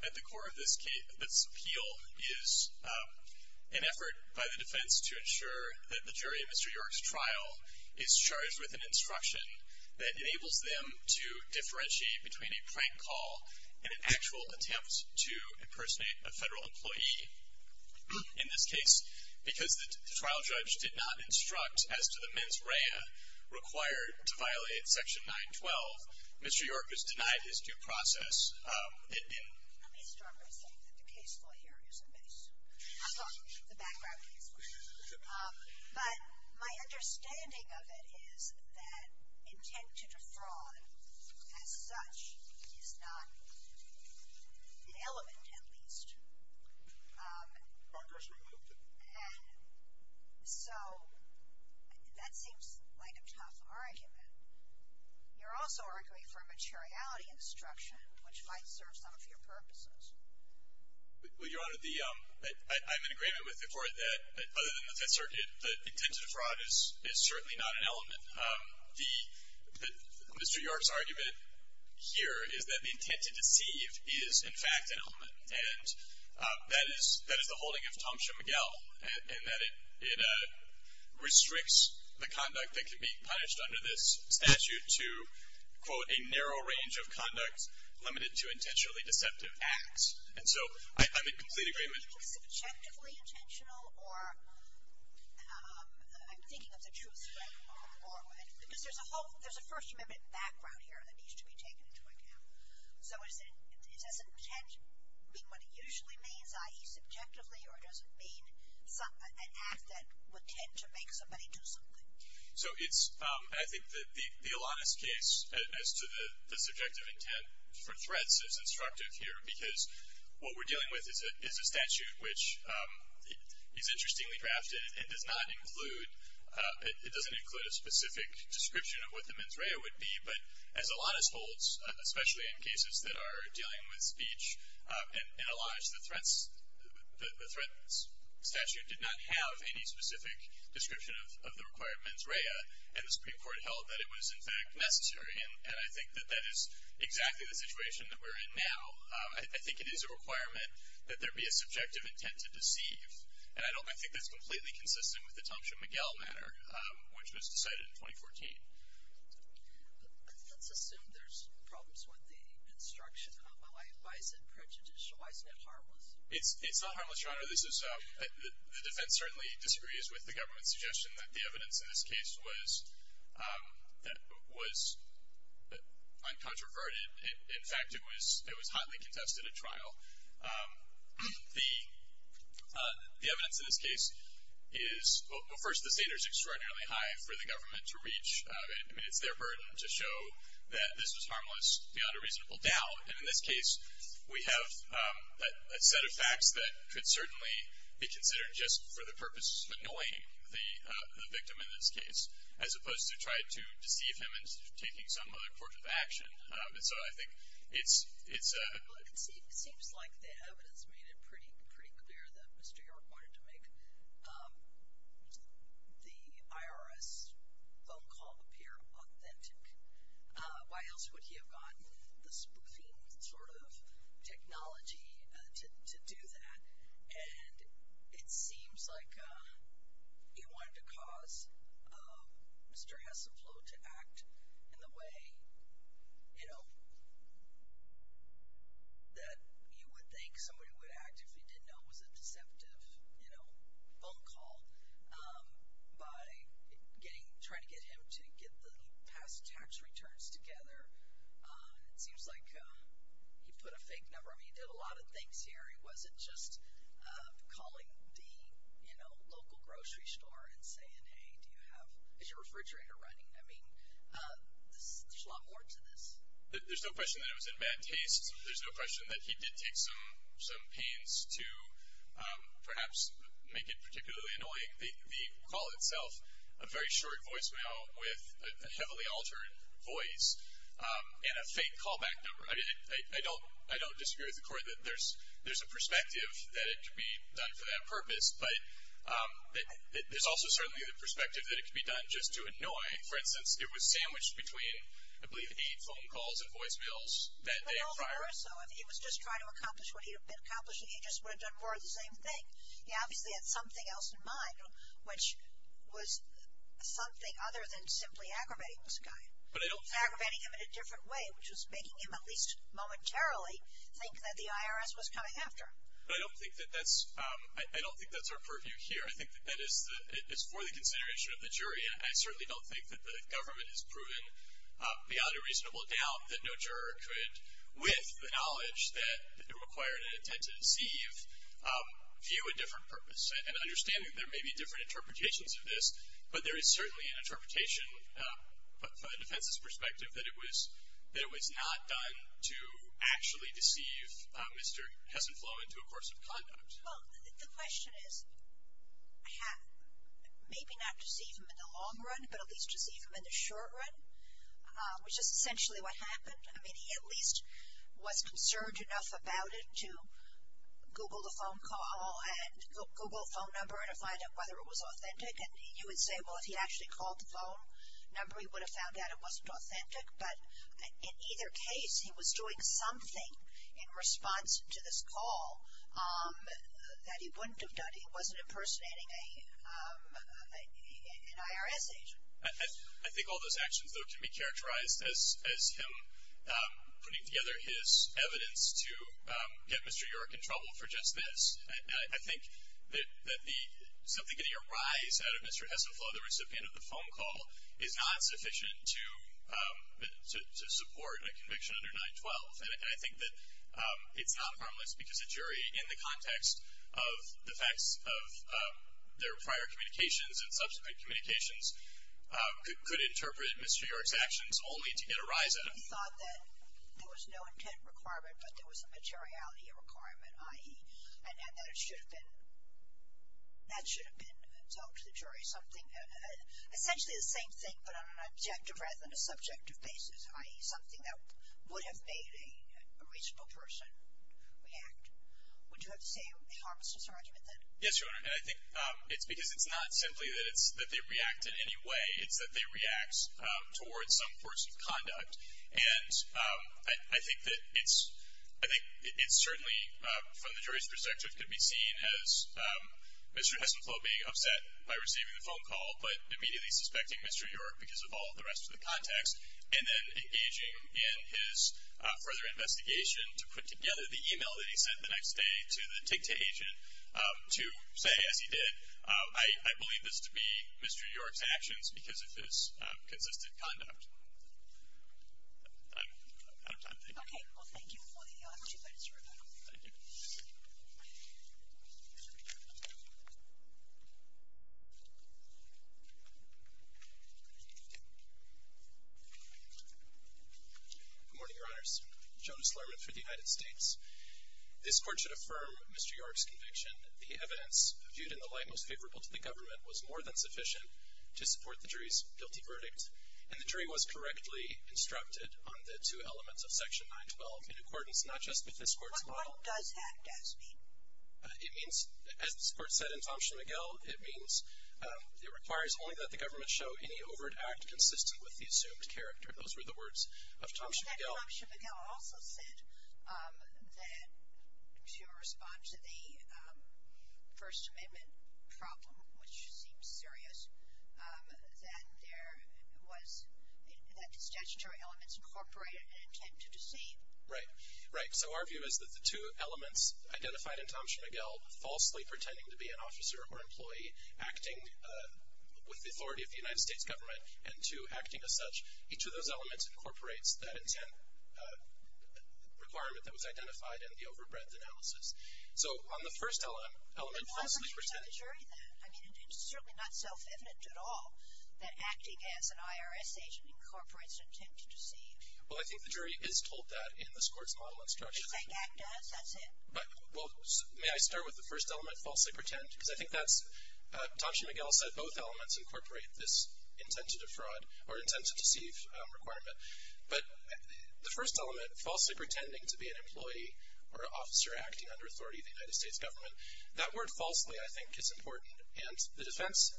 At the core of this appeal is an effort by the defense to ensure that the jury in Mr. York's trial is charged with an instruction that enables them to differentiate between a prank call and an actual attempt to impersonate a federal employee, in this case, because the trial judge did not instruct as to the mens rea required to violate section 912. Mr. York is denied his due process. Let me start by saying that the case law here is a mess. I'm talking about the background case law. But my understanding of it is that intent to defraud, as such, is not an element, at least. So that seems like a tough argument. You're also arguing for a materiality instruction, which might serve some of your purposes. Well, Your Honor, I'm in agreement with the court that, other than the fact that the intent to defraud is certainly not an element. Mr. York's argument here is that the intent to deceive is, in fact, an element. And that is the holding of Thompson-McGill. And that it restricts the conduct that can be punished under this statute to, quote, a narrow range of conducts limited to intentionally deceptive acts. And so I'm in complete agreement. Objectively intentional or, I'm thinking of the truth, right? Because there's a first amendment background here that needs to be taken into account. So does intent mean what it usually means, i.e., subjectively? Or does it mean an act that would tend to make somebody do something? So it's, I think that the Alanis case, as to the subjective intent for threats, is instructive here. Because what we're dealing with is a statute which is interestingly drafted. It does not include, it doesn't include a specific description of what the mens rea would be. But as Alanis holds, especially in cases that are dealing with speech and Alanis, the threat statute did not have any specific description of the required mens rea. And the Supreme Court held that it was, in fact, necessary. And I think that that is exactly the situation that we're in now. I think it is a requirement that there be a subjective intent to deceive. And I think that's completely consistent with the Thompson-McGill matter, which was decided in 2014. Let's assume there's problems with the instruction. Why is it prejudicial? Why is it harmless? It's not harmless, Your Honor. The defense certainly disagrees with the government's suggestion that the evidence in this case was uncontroverted. In fact, it was hotly contested at trial. The evidence in this case is, well, first, the standard is extraordinarily high for the government to reach. I mean, it's their burden to show that this was harmless beyond a reasonable doubt. And in this case, we have a set of facts that could certainly be considered just for the purpose of annoying the victim in this case, as opposed to try to deceive him into taking some other fortune of action. And so I think it's a. It seems like the evidence made it pretty clear that Mr. York wanted to make the IRS phone call appear authentic. Why else would he have gotten the spoofing sort of technology to do that? And it seems like he wanted to cause Mr. Hessenfloh to act in the way, you know, that you would think somebody would act if you didn't know it was a deceptive phone call by trying to get him to get the past tax returns together. It seems like he put a fake number. I mean, he did a lot of things here. He wasn't just calling the, you know, local grocery store and saying, hey, do you have, is your refrigerator running? I mean, there's a lot more to this. There's no question that it was in bad taste. There's no question that he did take some pains to perhaps make it particularly annoying. The call itself, a very short voicemail with a heavily altered voice and a fake callback number. I mean, I don't disagree with the court that there's a perspective that it could be done for that purpose. But there's also certainly the perspective that it could be done just to annoy. For instance, it was sandwiched between, I believe, eight phone calls and voicemails that day and Friday. Well, there are some. I mean, he was just trying to accomplish what he had been accomplishing. He just would have done more of the same thing. He obviously had something else in mind, which was something other than simply aggravating this guy. Aggravating him in a different way, which was making him at least momentarily think that the IRS was coming after him. But I don't think that that's our purview here. I think that that is for the consideration of the jury. And I certainly don't think that the government has proven beyond a reasonable doubt that no juror could, with the knowledge that it required an intent to deceive, view a different purpose. And understanding that there may be different interpretations of this, but there is certainly an interpretation from the defense's perspective that it was not done to actually deceive Mr. Hesinfloh into a course of conduct. Well, the question is, maybe not deceive him in the long run, but at least deceive him in the short run, which is essentially what happened. I mean, he at least was concerned enough about it to Google the phone call and Google the phone number to find out whether it was authentic. And you would say, well, if he actually called the phone number, he would have found out it wasn't authentic. But in either case, he was doing something in response to this call that he wouldn't have done. He wasn't impersonating an IRS agent. I think all those actions, though, can be characterized as him putting together his evidence to get Mr. York in trouble for just this. And I think that simply getting a rise out of Mr. Hesinfloh, the recipient of the phone call, is not sufficient to support a conviction under 912. And I think that it's not harmless because a jury, in the context of the facts of their prior communications and subsequent communications, could interpret Mr. York's actions only to get a rise out of him. He thought that there was no intent requirement, but there was a materiality requirement, i.e., and that it should have been told to the jury something, essentially the same thing, but on an objective rather than a subjective basis, i.e., something that would have made a reasonable person react. Would you have to say it harms his argument, then? Yes, Your Honor, and I think it's because it's not simply that they react in any way. It's that they react towards some course of conduct. And I think that it's certainly, from the jury's perspective, could be seen as Mr. Hesinfloh being upset by receiving the phone call but immediately suspecting Mr. York because of all the rest of the context, and then engaging in his further investigation to put together the e-mail that he sent the next day to the TICTA agent to say, as he did, I believe this to be Mr. York's actions because of his consistent conduct. I'm out of time. Thank you. Okay. Well, thank you for the two minutes, Your Honor. Thank you. Good morning, Your Honors. Jonas Lerman for the United States. This Court should affirm Mr. York's conviction. The evidence viewed in the light most favorable to the government was more than sufficient to support the jury's guilty verdict, and the jury was correctly instructed on the two elements of Section 912 in accordance, not just with this Court's model. What does that just mean? It means, as this Court said in Thomson-McGill, it means it requires only that the government show any overt act consistent with the assumed character. Those were the words of Thomson-McGill. But Thomson-McGill also said that to respond to the First Amendment problem, which seems serious, that the statutory elements incorporate an intent to deceive. Right. Right. So our view is that the two elements identified in Thomson-McGill, falsely pretending to be an officer or employee, acting with the authority of the United States government, and two, acting as such, each of those elements incorporates that intent requirement that was identified in the overbreadth analysis. So on the first element, falsely pretending. But why would you tell the jury that? I mean, it's certainly not self-evident at all that acting as an IRS agent incorporates an intent to deceive. Well, I think the jury is told that in this Court's model and structure. If they act as, that's it. Well, may I start with the first element, falsely pretend? Because I think that's, Thomson-McGill said both elements incorporate this intent to defraud or intent to deceive requirement. But the first element, falsely pretending to be an employee or an officer acting under authority of the United States government, that word falsely, I think, is important. And the defense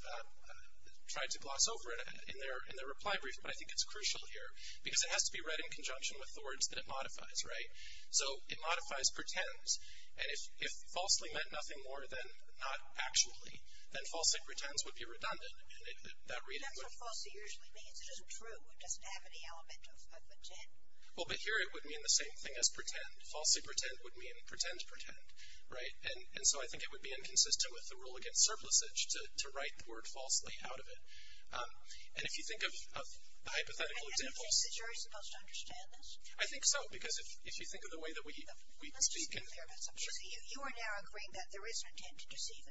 tried to gloss over it in their reply brief, but I think it's crucial here because it has to be read in conjunction with the words that it modifies. Right? So it modifies pretend. And if falsely meant nothing more than not actually, then falsely pretends would be redundant. That's what falsely usually means. It isn't true. It doesn't have any element of intent. Well, but here it would mean the same thing as pretend. Falsely pretend would mean pretend pretend. Right? And so I think it would be inconsistent with the rule against surplusage to write the word falsely out of it. And if you think of the hypothetical examples. And in that case, is the jury supposed to understand this? I think so. Because if you think of the way that we can speak. Let's just be clear about something. You see, you are now agreeing that there is an intent to deceive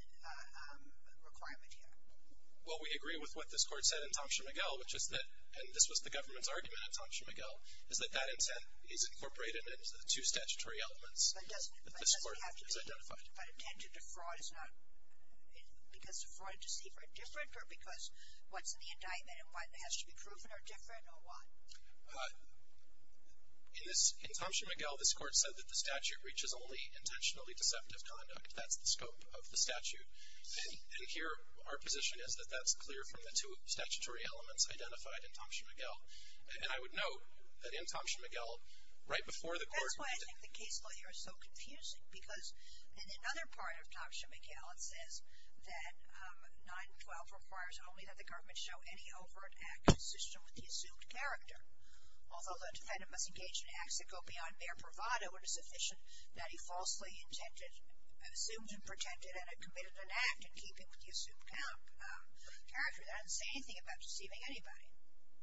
requirement here. Well, we agree with what this Court said in Tomshin-McGill, which is that, and this was the government's argument in Tomshin-McGill, is that that intent is incorporated into the two statutory elements that this Court has identified. But doesn't it have to be, but intent to defraud is not, because defraud and deceive are different? Or because what's in the indictment and what has to be proven are different? Or what? In this, in Tomshin-McGill, this Court said that the statute reaches only intentionally deceptive conduct. That's the scope of the statute. And here, our position is that that's clear from the two statutory elements identified in Tomshin-McGill. And I would note that in Tomshin-McGill, right before the Court. That's why I think the case lawyer is so confusing. Because in another part of Tomshin-McGill, it says that 912 requires only that the government show any overt act consistent with the assumed character. Although the defendant must engage in acts that go beyond mere bravado to show it is sufficient that he falsely intended, assumed and protected, and committed an act in keeping with the assumed character. That doesn't say anything about deceiving anybody.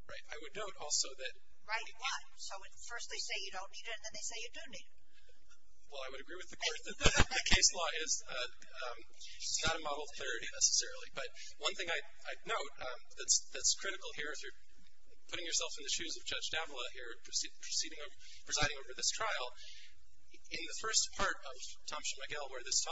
Right. I would note also that. Right. Why? So first they say you don't need it, and then they say you do need it. Well, I would agree with the Court that the case law is not a model of clarity, necessarily. But one thing I'd note that's critical here, if you're putting yourself in the shoes of Judge Davila here, presiding over this trial, in the first part of Tomshin-McGill, where this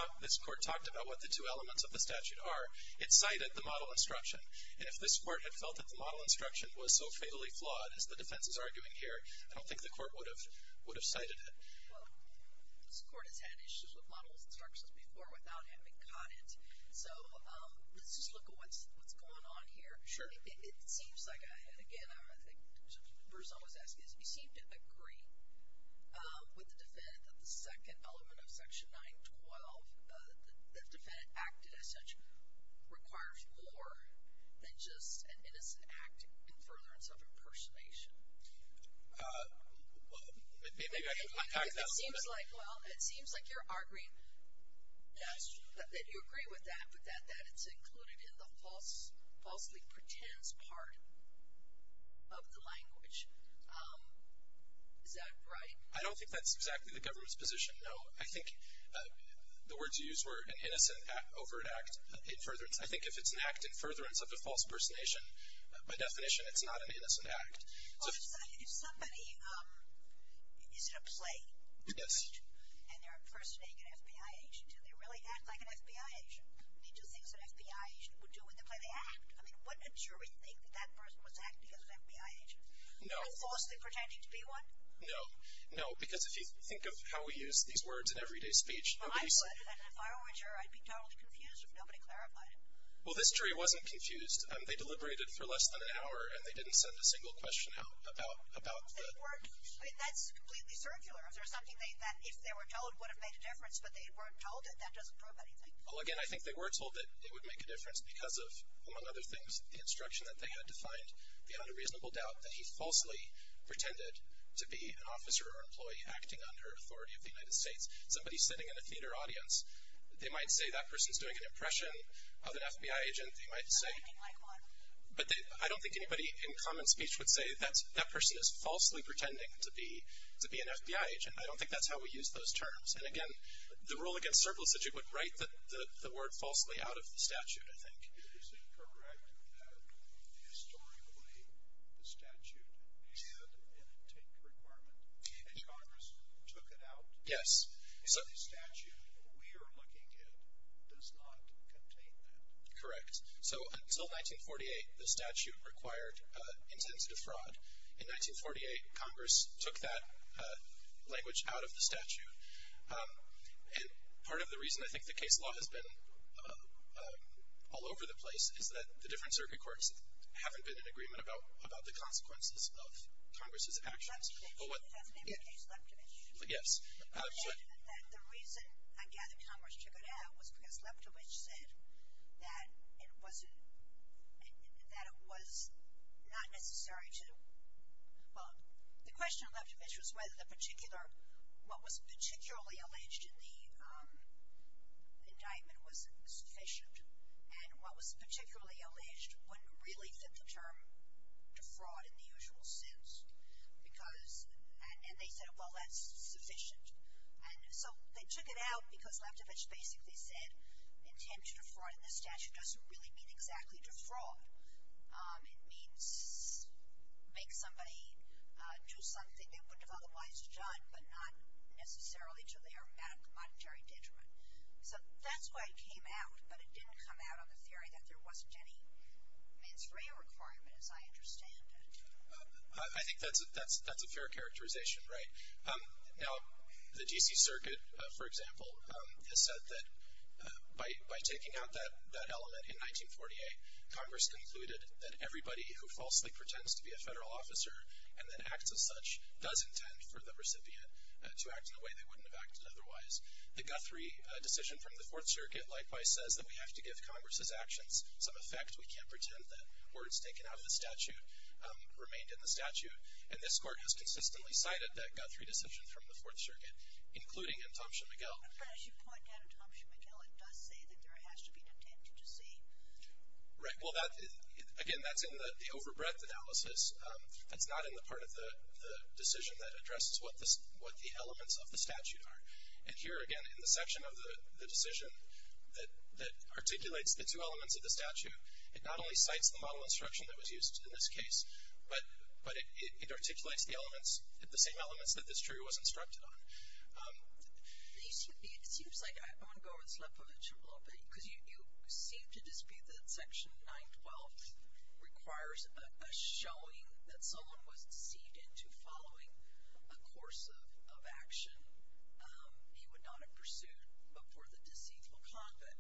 Court talked about what the two elements of the statute are, it cited the model instruction. And if this Court had felt that the model instruction was so fatally flawed, as the defense is arguing here, I don't think the Court would have cited it. Well, this Court has had issues with model instructions before without having caught it. So let's just look at what's going on here. Sure. It seems like, and again, I think Bruce always asks this, you seem to agree with the defendant that the second element of Section 912, the defendant acted as such, requires more than just an innocent act in furtherance of impersonation. Maybe I should unpack that a little bit. It seems like, well, it seems like you're arguing that you agree with that, that it's included in the falsely pretends part of the language. Is that right? I don't think that's exactly the government's position, no. I think the words you used were an innocent over an act in furtherance. I think if it's an act in furtherance of a false impersonation, by definition, it's not an innocent act. Well, if somebody, is it a play? Yes. And they're impersonating an FBI agent, do they really act like an FBI agent? They do things that an FBI agent would do in the play. They act. I mean, wouldn't a jury think that that person was acting as an FBI agent? No. And falsely pretending to be one? No. No, because if you think of how we use these words in everyday speech. Well, I would. And if I were a juror, I'd be totally confused if nobody clarified it. Well, this jury wasn't confused. They deliberated for less than an hour, and they didn't send a single question out about the... They weren't, I mean, that's completely circular. If there's something that if they were told would have made a difference, but they weren't told it, that doesn't prove anything. Well, again, I think they were told that it would make a difference because of, among other things, the instruction that they had to find the unreasonable doubt that he falsely pretended to be an officer or employee acting under authority of the United States. Somebody sitting in a theater audience, they might say that person's doing an impression of an FBI agent. They might say... Something like one. But I don't think anybody in common speech would say that that person is falsely pretending to be an FBI agent. I don't think that's how we use those terms. And, again, the rule against surplus that you would write the word falsely out of the statute, I think. Is it correct that historically the statute had an intake requirement, and Congress took it out. Yes. And the statute we are looking at does not contain that. Correct. So until 1948, the statute required intensive fraud. In 1948, Congress took that language out of the statute. And part of the reason I think the case law has been all over the place is that the different circuit courts haven't been in agreement about the consequences of Congress's actions. Leptovich. That's the name of the case, Leptovich. Yes. The reason, I gather, Congress took it out was because Leptovich said that it was not necessary to, well, the question of Leptovich was whether the particular, what was particularly alleged in the indictment was sufficient. And what was particularly alleged wouldn't really fit the term defraud in the usual sense. Because, and they said, well, that's sufficient. And so they took it out because Leptovich basically said intent to defraud in the statute doesn't really mean exactly defraud. It means make somebody do something they wouldn't have otherwise done, but not necessarily to their monetary detriment. So that's why it came out, but it didn't come out on the theory that there wasn't any, I mean, it's real requirement, as I understand it. I think that's a fair characterization, right. Now, the D.C. Circuit, for example, has said that by taking out that element in 1948, Congress concluded that everybody who falsely pretends to be a federal officer and then acts as such does intend for the recipient to act in a way they wouldn't have acted otherwise. The Guthrie decision from the Fourth Circuit, likewise, says that we have to give Congress's actions some effect. We can't pretend that words taken out of the statute remained in the statute. And this Court has consistently cited that Guthrie decision from the Fourth Circuit, including in Thomson-McGill. It does say that there has to be an intent to deceive. Right. Well, again, that's in the overbreadth analysis. That's not in the part of the decision that addresses what the elements of the statute are. And here, again, in the section of the decision that articulates the two elements of the statute, it not only cites the model instruction that was used in this case, but it articulates the elements, the same elements that this jury was instructed on. It seems like I'm going to go over this Lebovitch a little bit because you seem to dispute that Section 912 requires a showing that someone was deceived into following a course of action he would not have pursued before the deceitful conduct.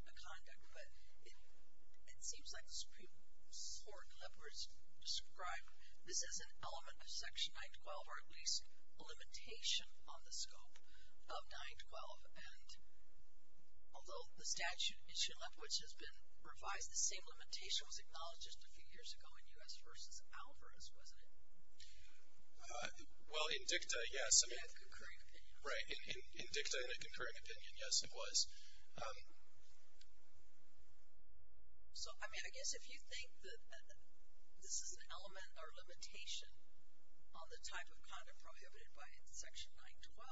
But it seems like the Supreme Court, Lebovitch, described this as an element of Section 912, or at least a limitation on the scope of 912. And although the statute, which has been revised, the same limitation was acknowledged just a few years ago in U.S. v. Alvarez, wasn't it? Well, in dicta, yes. In a concurring opinion. Right. In dicta, in a concurring opinion, yes, it was. So, I mean, I guess if you think that this is an element or limitation on the type of conduct prohibited by Section 912,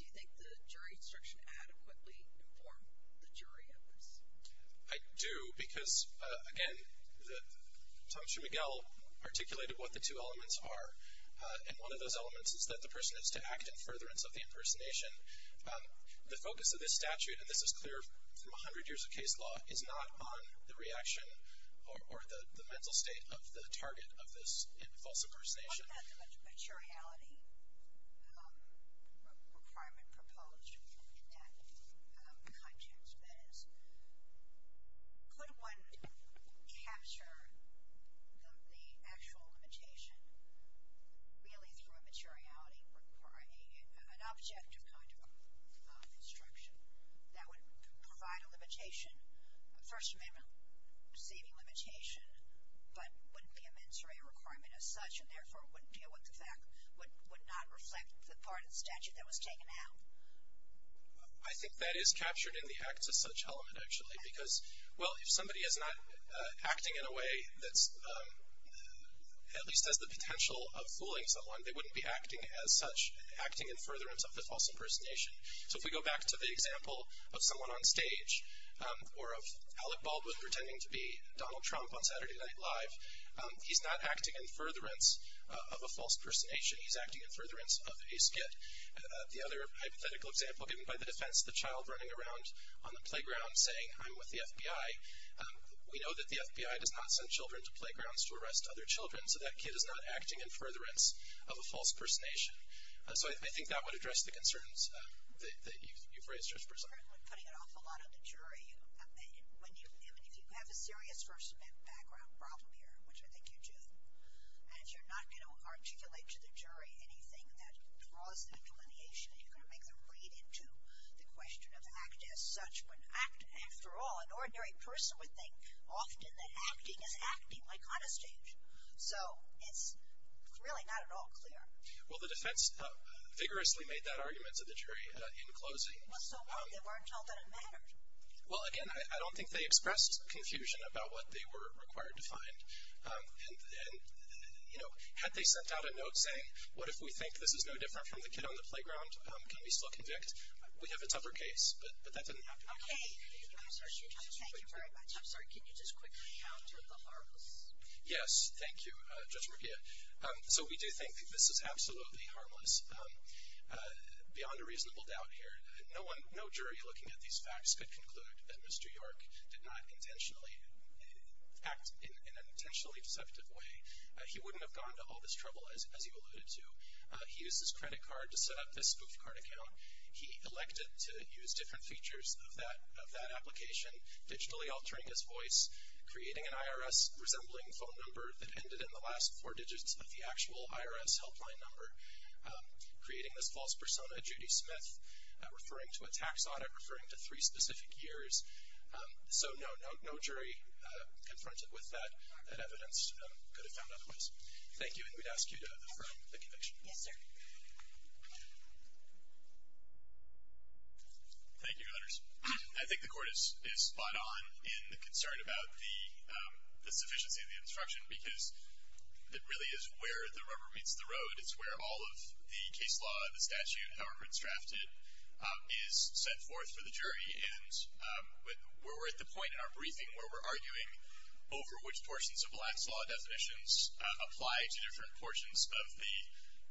do you think the jury instruction adequately informed the jury in this? I do because, again, Tom Schumigal articulated what the two elements are. And one of those elements is that the person is to act in furtherance of the impersonation. The focus of this statute, and this is clear from 100 years of case law, is not on the reaction or the mental state of the target of this false impersonation. What about the materiality requirement proposed in that context? That is, could one capture the actual limitation really through a materiality, or an objective kind of instruction that would provide a limitation, a First Amendment receiving limitation, but wouldn't be a mens rea requirement as such, and therefore wouldn't deal with the fact, would not reflect the part of the statute that was taken out? I think that is captured in the acts of such element, actually, because, well, if somebody is not acting in a way that at least has the potential of fooling someone, they wouldn't be acting as such, acting in furtherance of the false impersonation. So if we go back to the example of someone on stage, or of Alec Baldwin pretending to be Donald Trump on Saturday Night Live, he's not acting in furtherance of a false impersonation. He's acting in furtherance of a skit. The other hypothetical example given by the defense, the child running around on the playground saying, I'm with the FBI. We know that the FBI does not send children to playgrounds to arrest other children, so that kid is not acting in furtherance of a false impersonation. So I think that would address the concerns that you've raised, Judge Breslin. When putting it off a lot on the jury, if you have a serious First Amendment background problem here, which I think you do, and you're not going to articulate to the jury anything that draws the delineation, you're going to make them read into the question of act as such, when act, after all, an ordinary person would think often that acting is acting, like on a stage. So it's really not at all clear. Well, the defense vigorously made that argument to the jury in closing. Well, so what? They weren't told that it mattered. Well, again, I don't think they expressed confusion about what they were required to find. And, you know, had they sent out a note saying, what if we think this is no different from the kid on the playground, can we still convict? We have a tougher case, but that didn't happen. Okay, thank you very much. I'm sorry, can you just quickly counter the harps? Yes, thank you, Judge Murguia. So we do think that this is absolutely harmless, beyond a reasonable doubt here. No jury looking at these facts could conclude that Mr. York did not intentionally act in an intentionally deceptive way. He wouldn't have gone to all this trouble, as you alluded to. He used his credit card to set up this spoof card account. He elected to use different features of that application, digitally altering his voice, creating an IRS resembling phone number that ended in the last four digits of the actual IRS helpline number, creating this false persona, Judy Smith, referring to a tax audit, referring to three specific years. So, no, no jury confronted with that evidence could have found other ways. Thank you, and we'd ask you to affirm the conviction. Thank you, Your Honors. I think the Court is spot on in the concern about the sufficiency of the instruction, because it really is where the rubber meets the road. It's where all of the case law, the statute, however it's drafted, is set forth for the jury. And where we're at the point in our briefing where we're arguing over which portions of Black's law definitions apply to different portions of the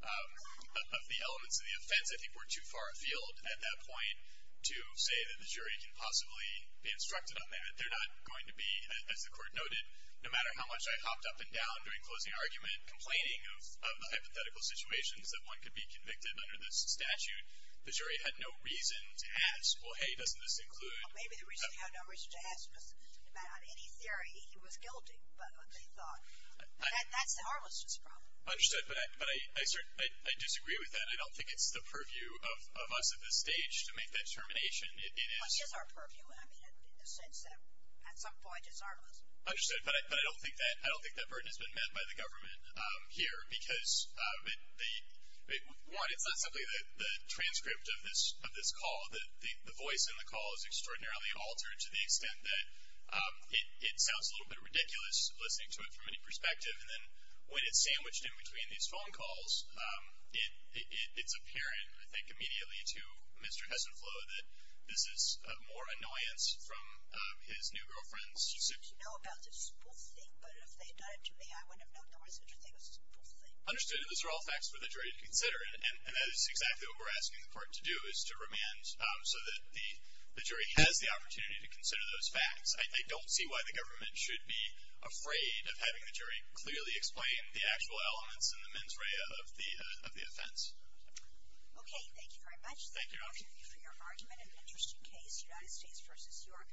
elements of the offense, I think we're too far afield at that point to say that the jury can possibly be instructed on that. They're not going to be, as the Court noted, no matter how much I hopped up and down during closing argument, complaining of the hypothetical situations that one could be convicted under this statute, the jury had no reason to ask, well, hey, doesn't this include... Well, maybe the reason they had no reason to ask was no matter, on any theory, he was guilty, but they thought... That's the harmlessness problem. Understood, but I disagree with that. I don't think it's the purview of us at this stage to make that determination. It is... It is our purview, I mean, in the sense that, at some point, it's harmless. Understood, but I don't think that burden has been met by the government here. Because, one, it's not simply the transcript of this call. The voice in the call is extraordinarily altered to the extent that it sounds a little bit ridiculous, listening to it from any perspective. And then, when it's sandwiched in between these phone calls, it's apparent, I think, immediately to Mr. Hesinfloh that this is more annoyance from his new girlfriend's... I don't know about this whole thing, but if they had done it to me, I wouldn't have known there was such a thing as this whole thing. Understood, and those are all facts for the jury to consider. And that is exactly what we're asking the Court to do, is to remand so that the jury has the opportunity to consider those facts. I don't see why the government should be afraid of having the jury clearly explain the actual elements and the mens rea of the offense. Okay, thank you very much. Thank you. Thank you for your argument. An interesting case, United States v. York.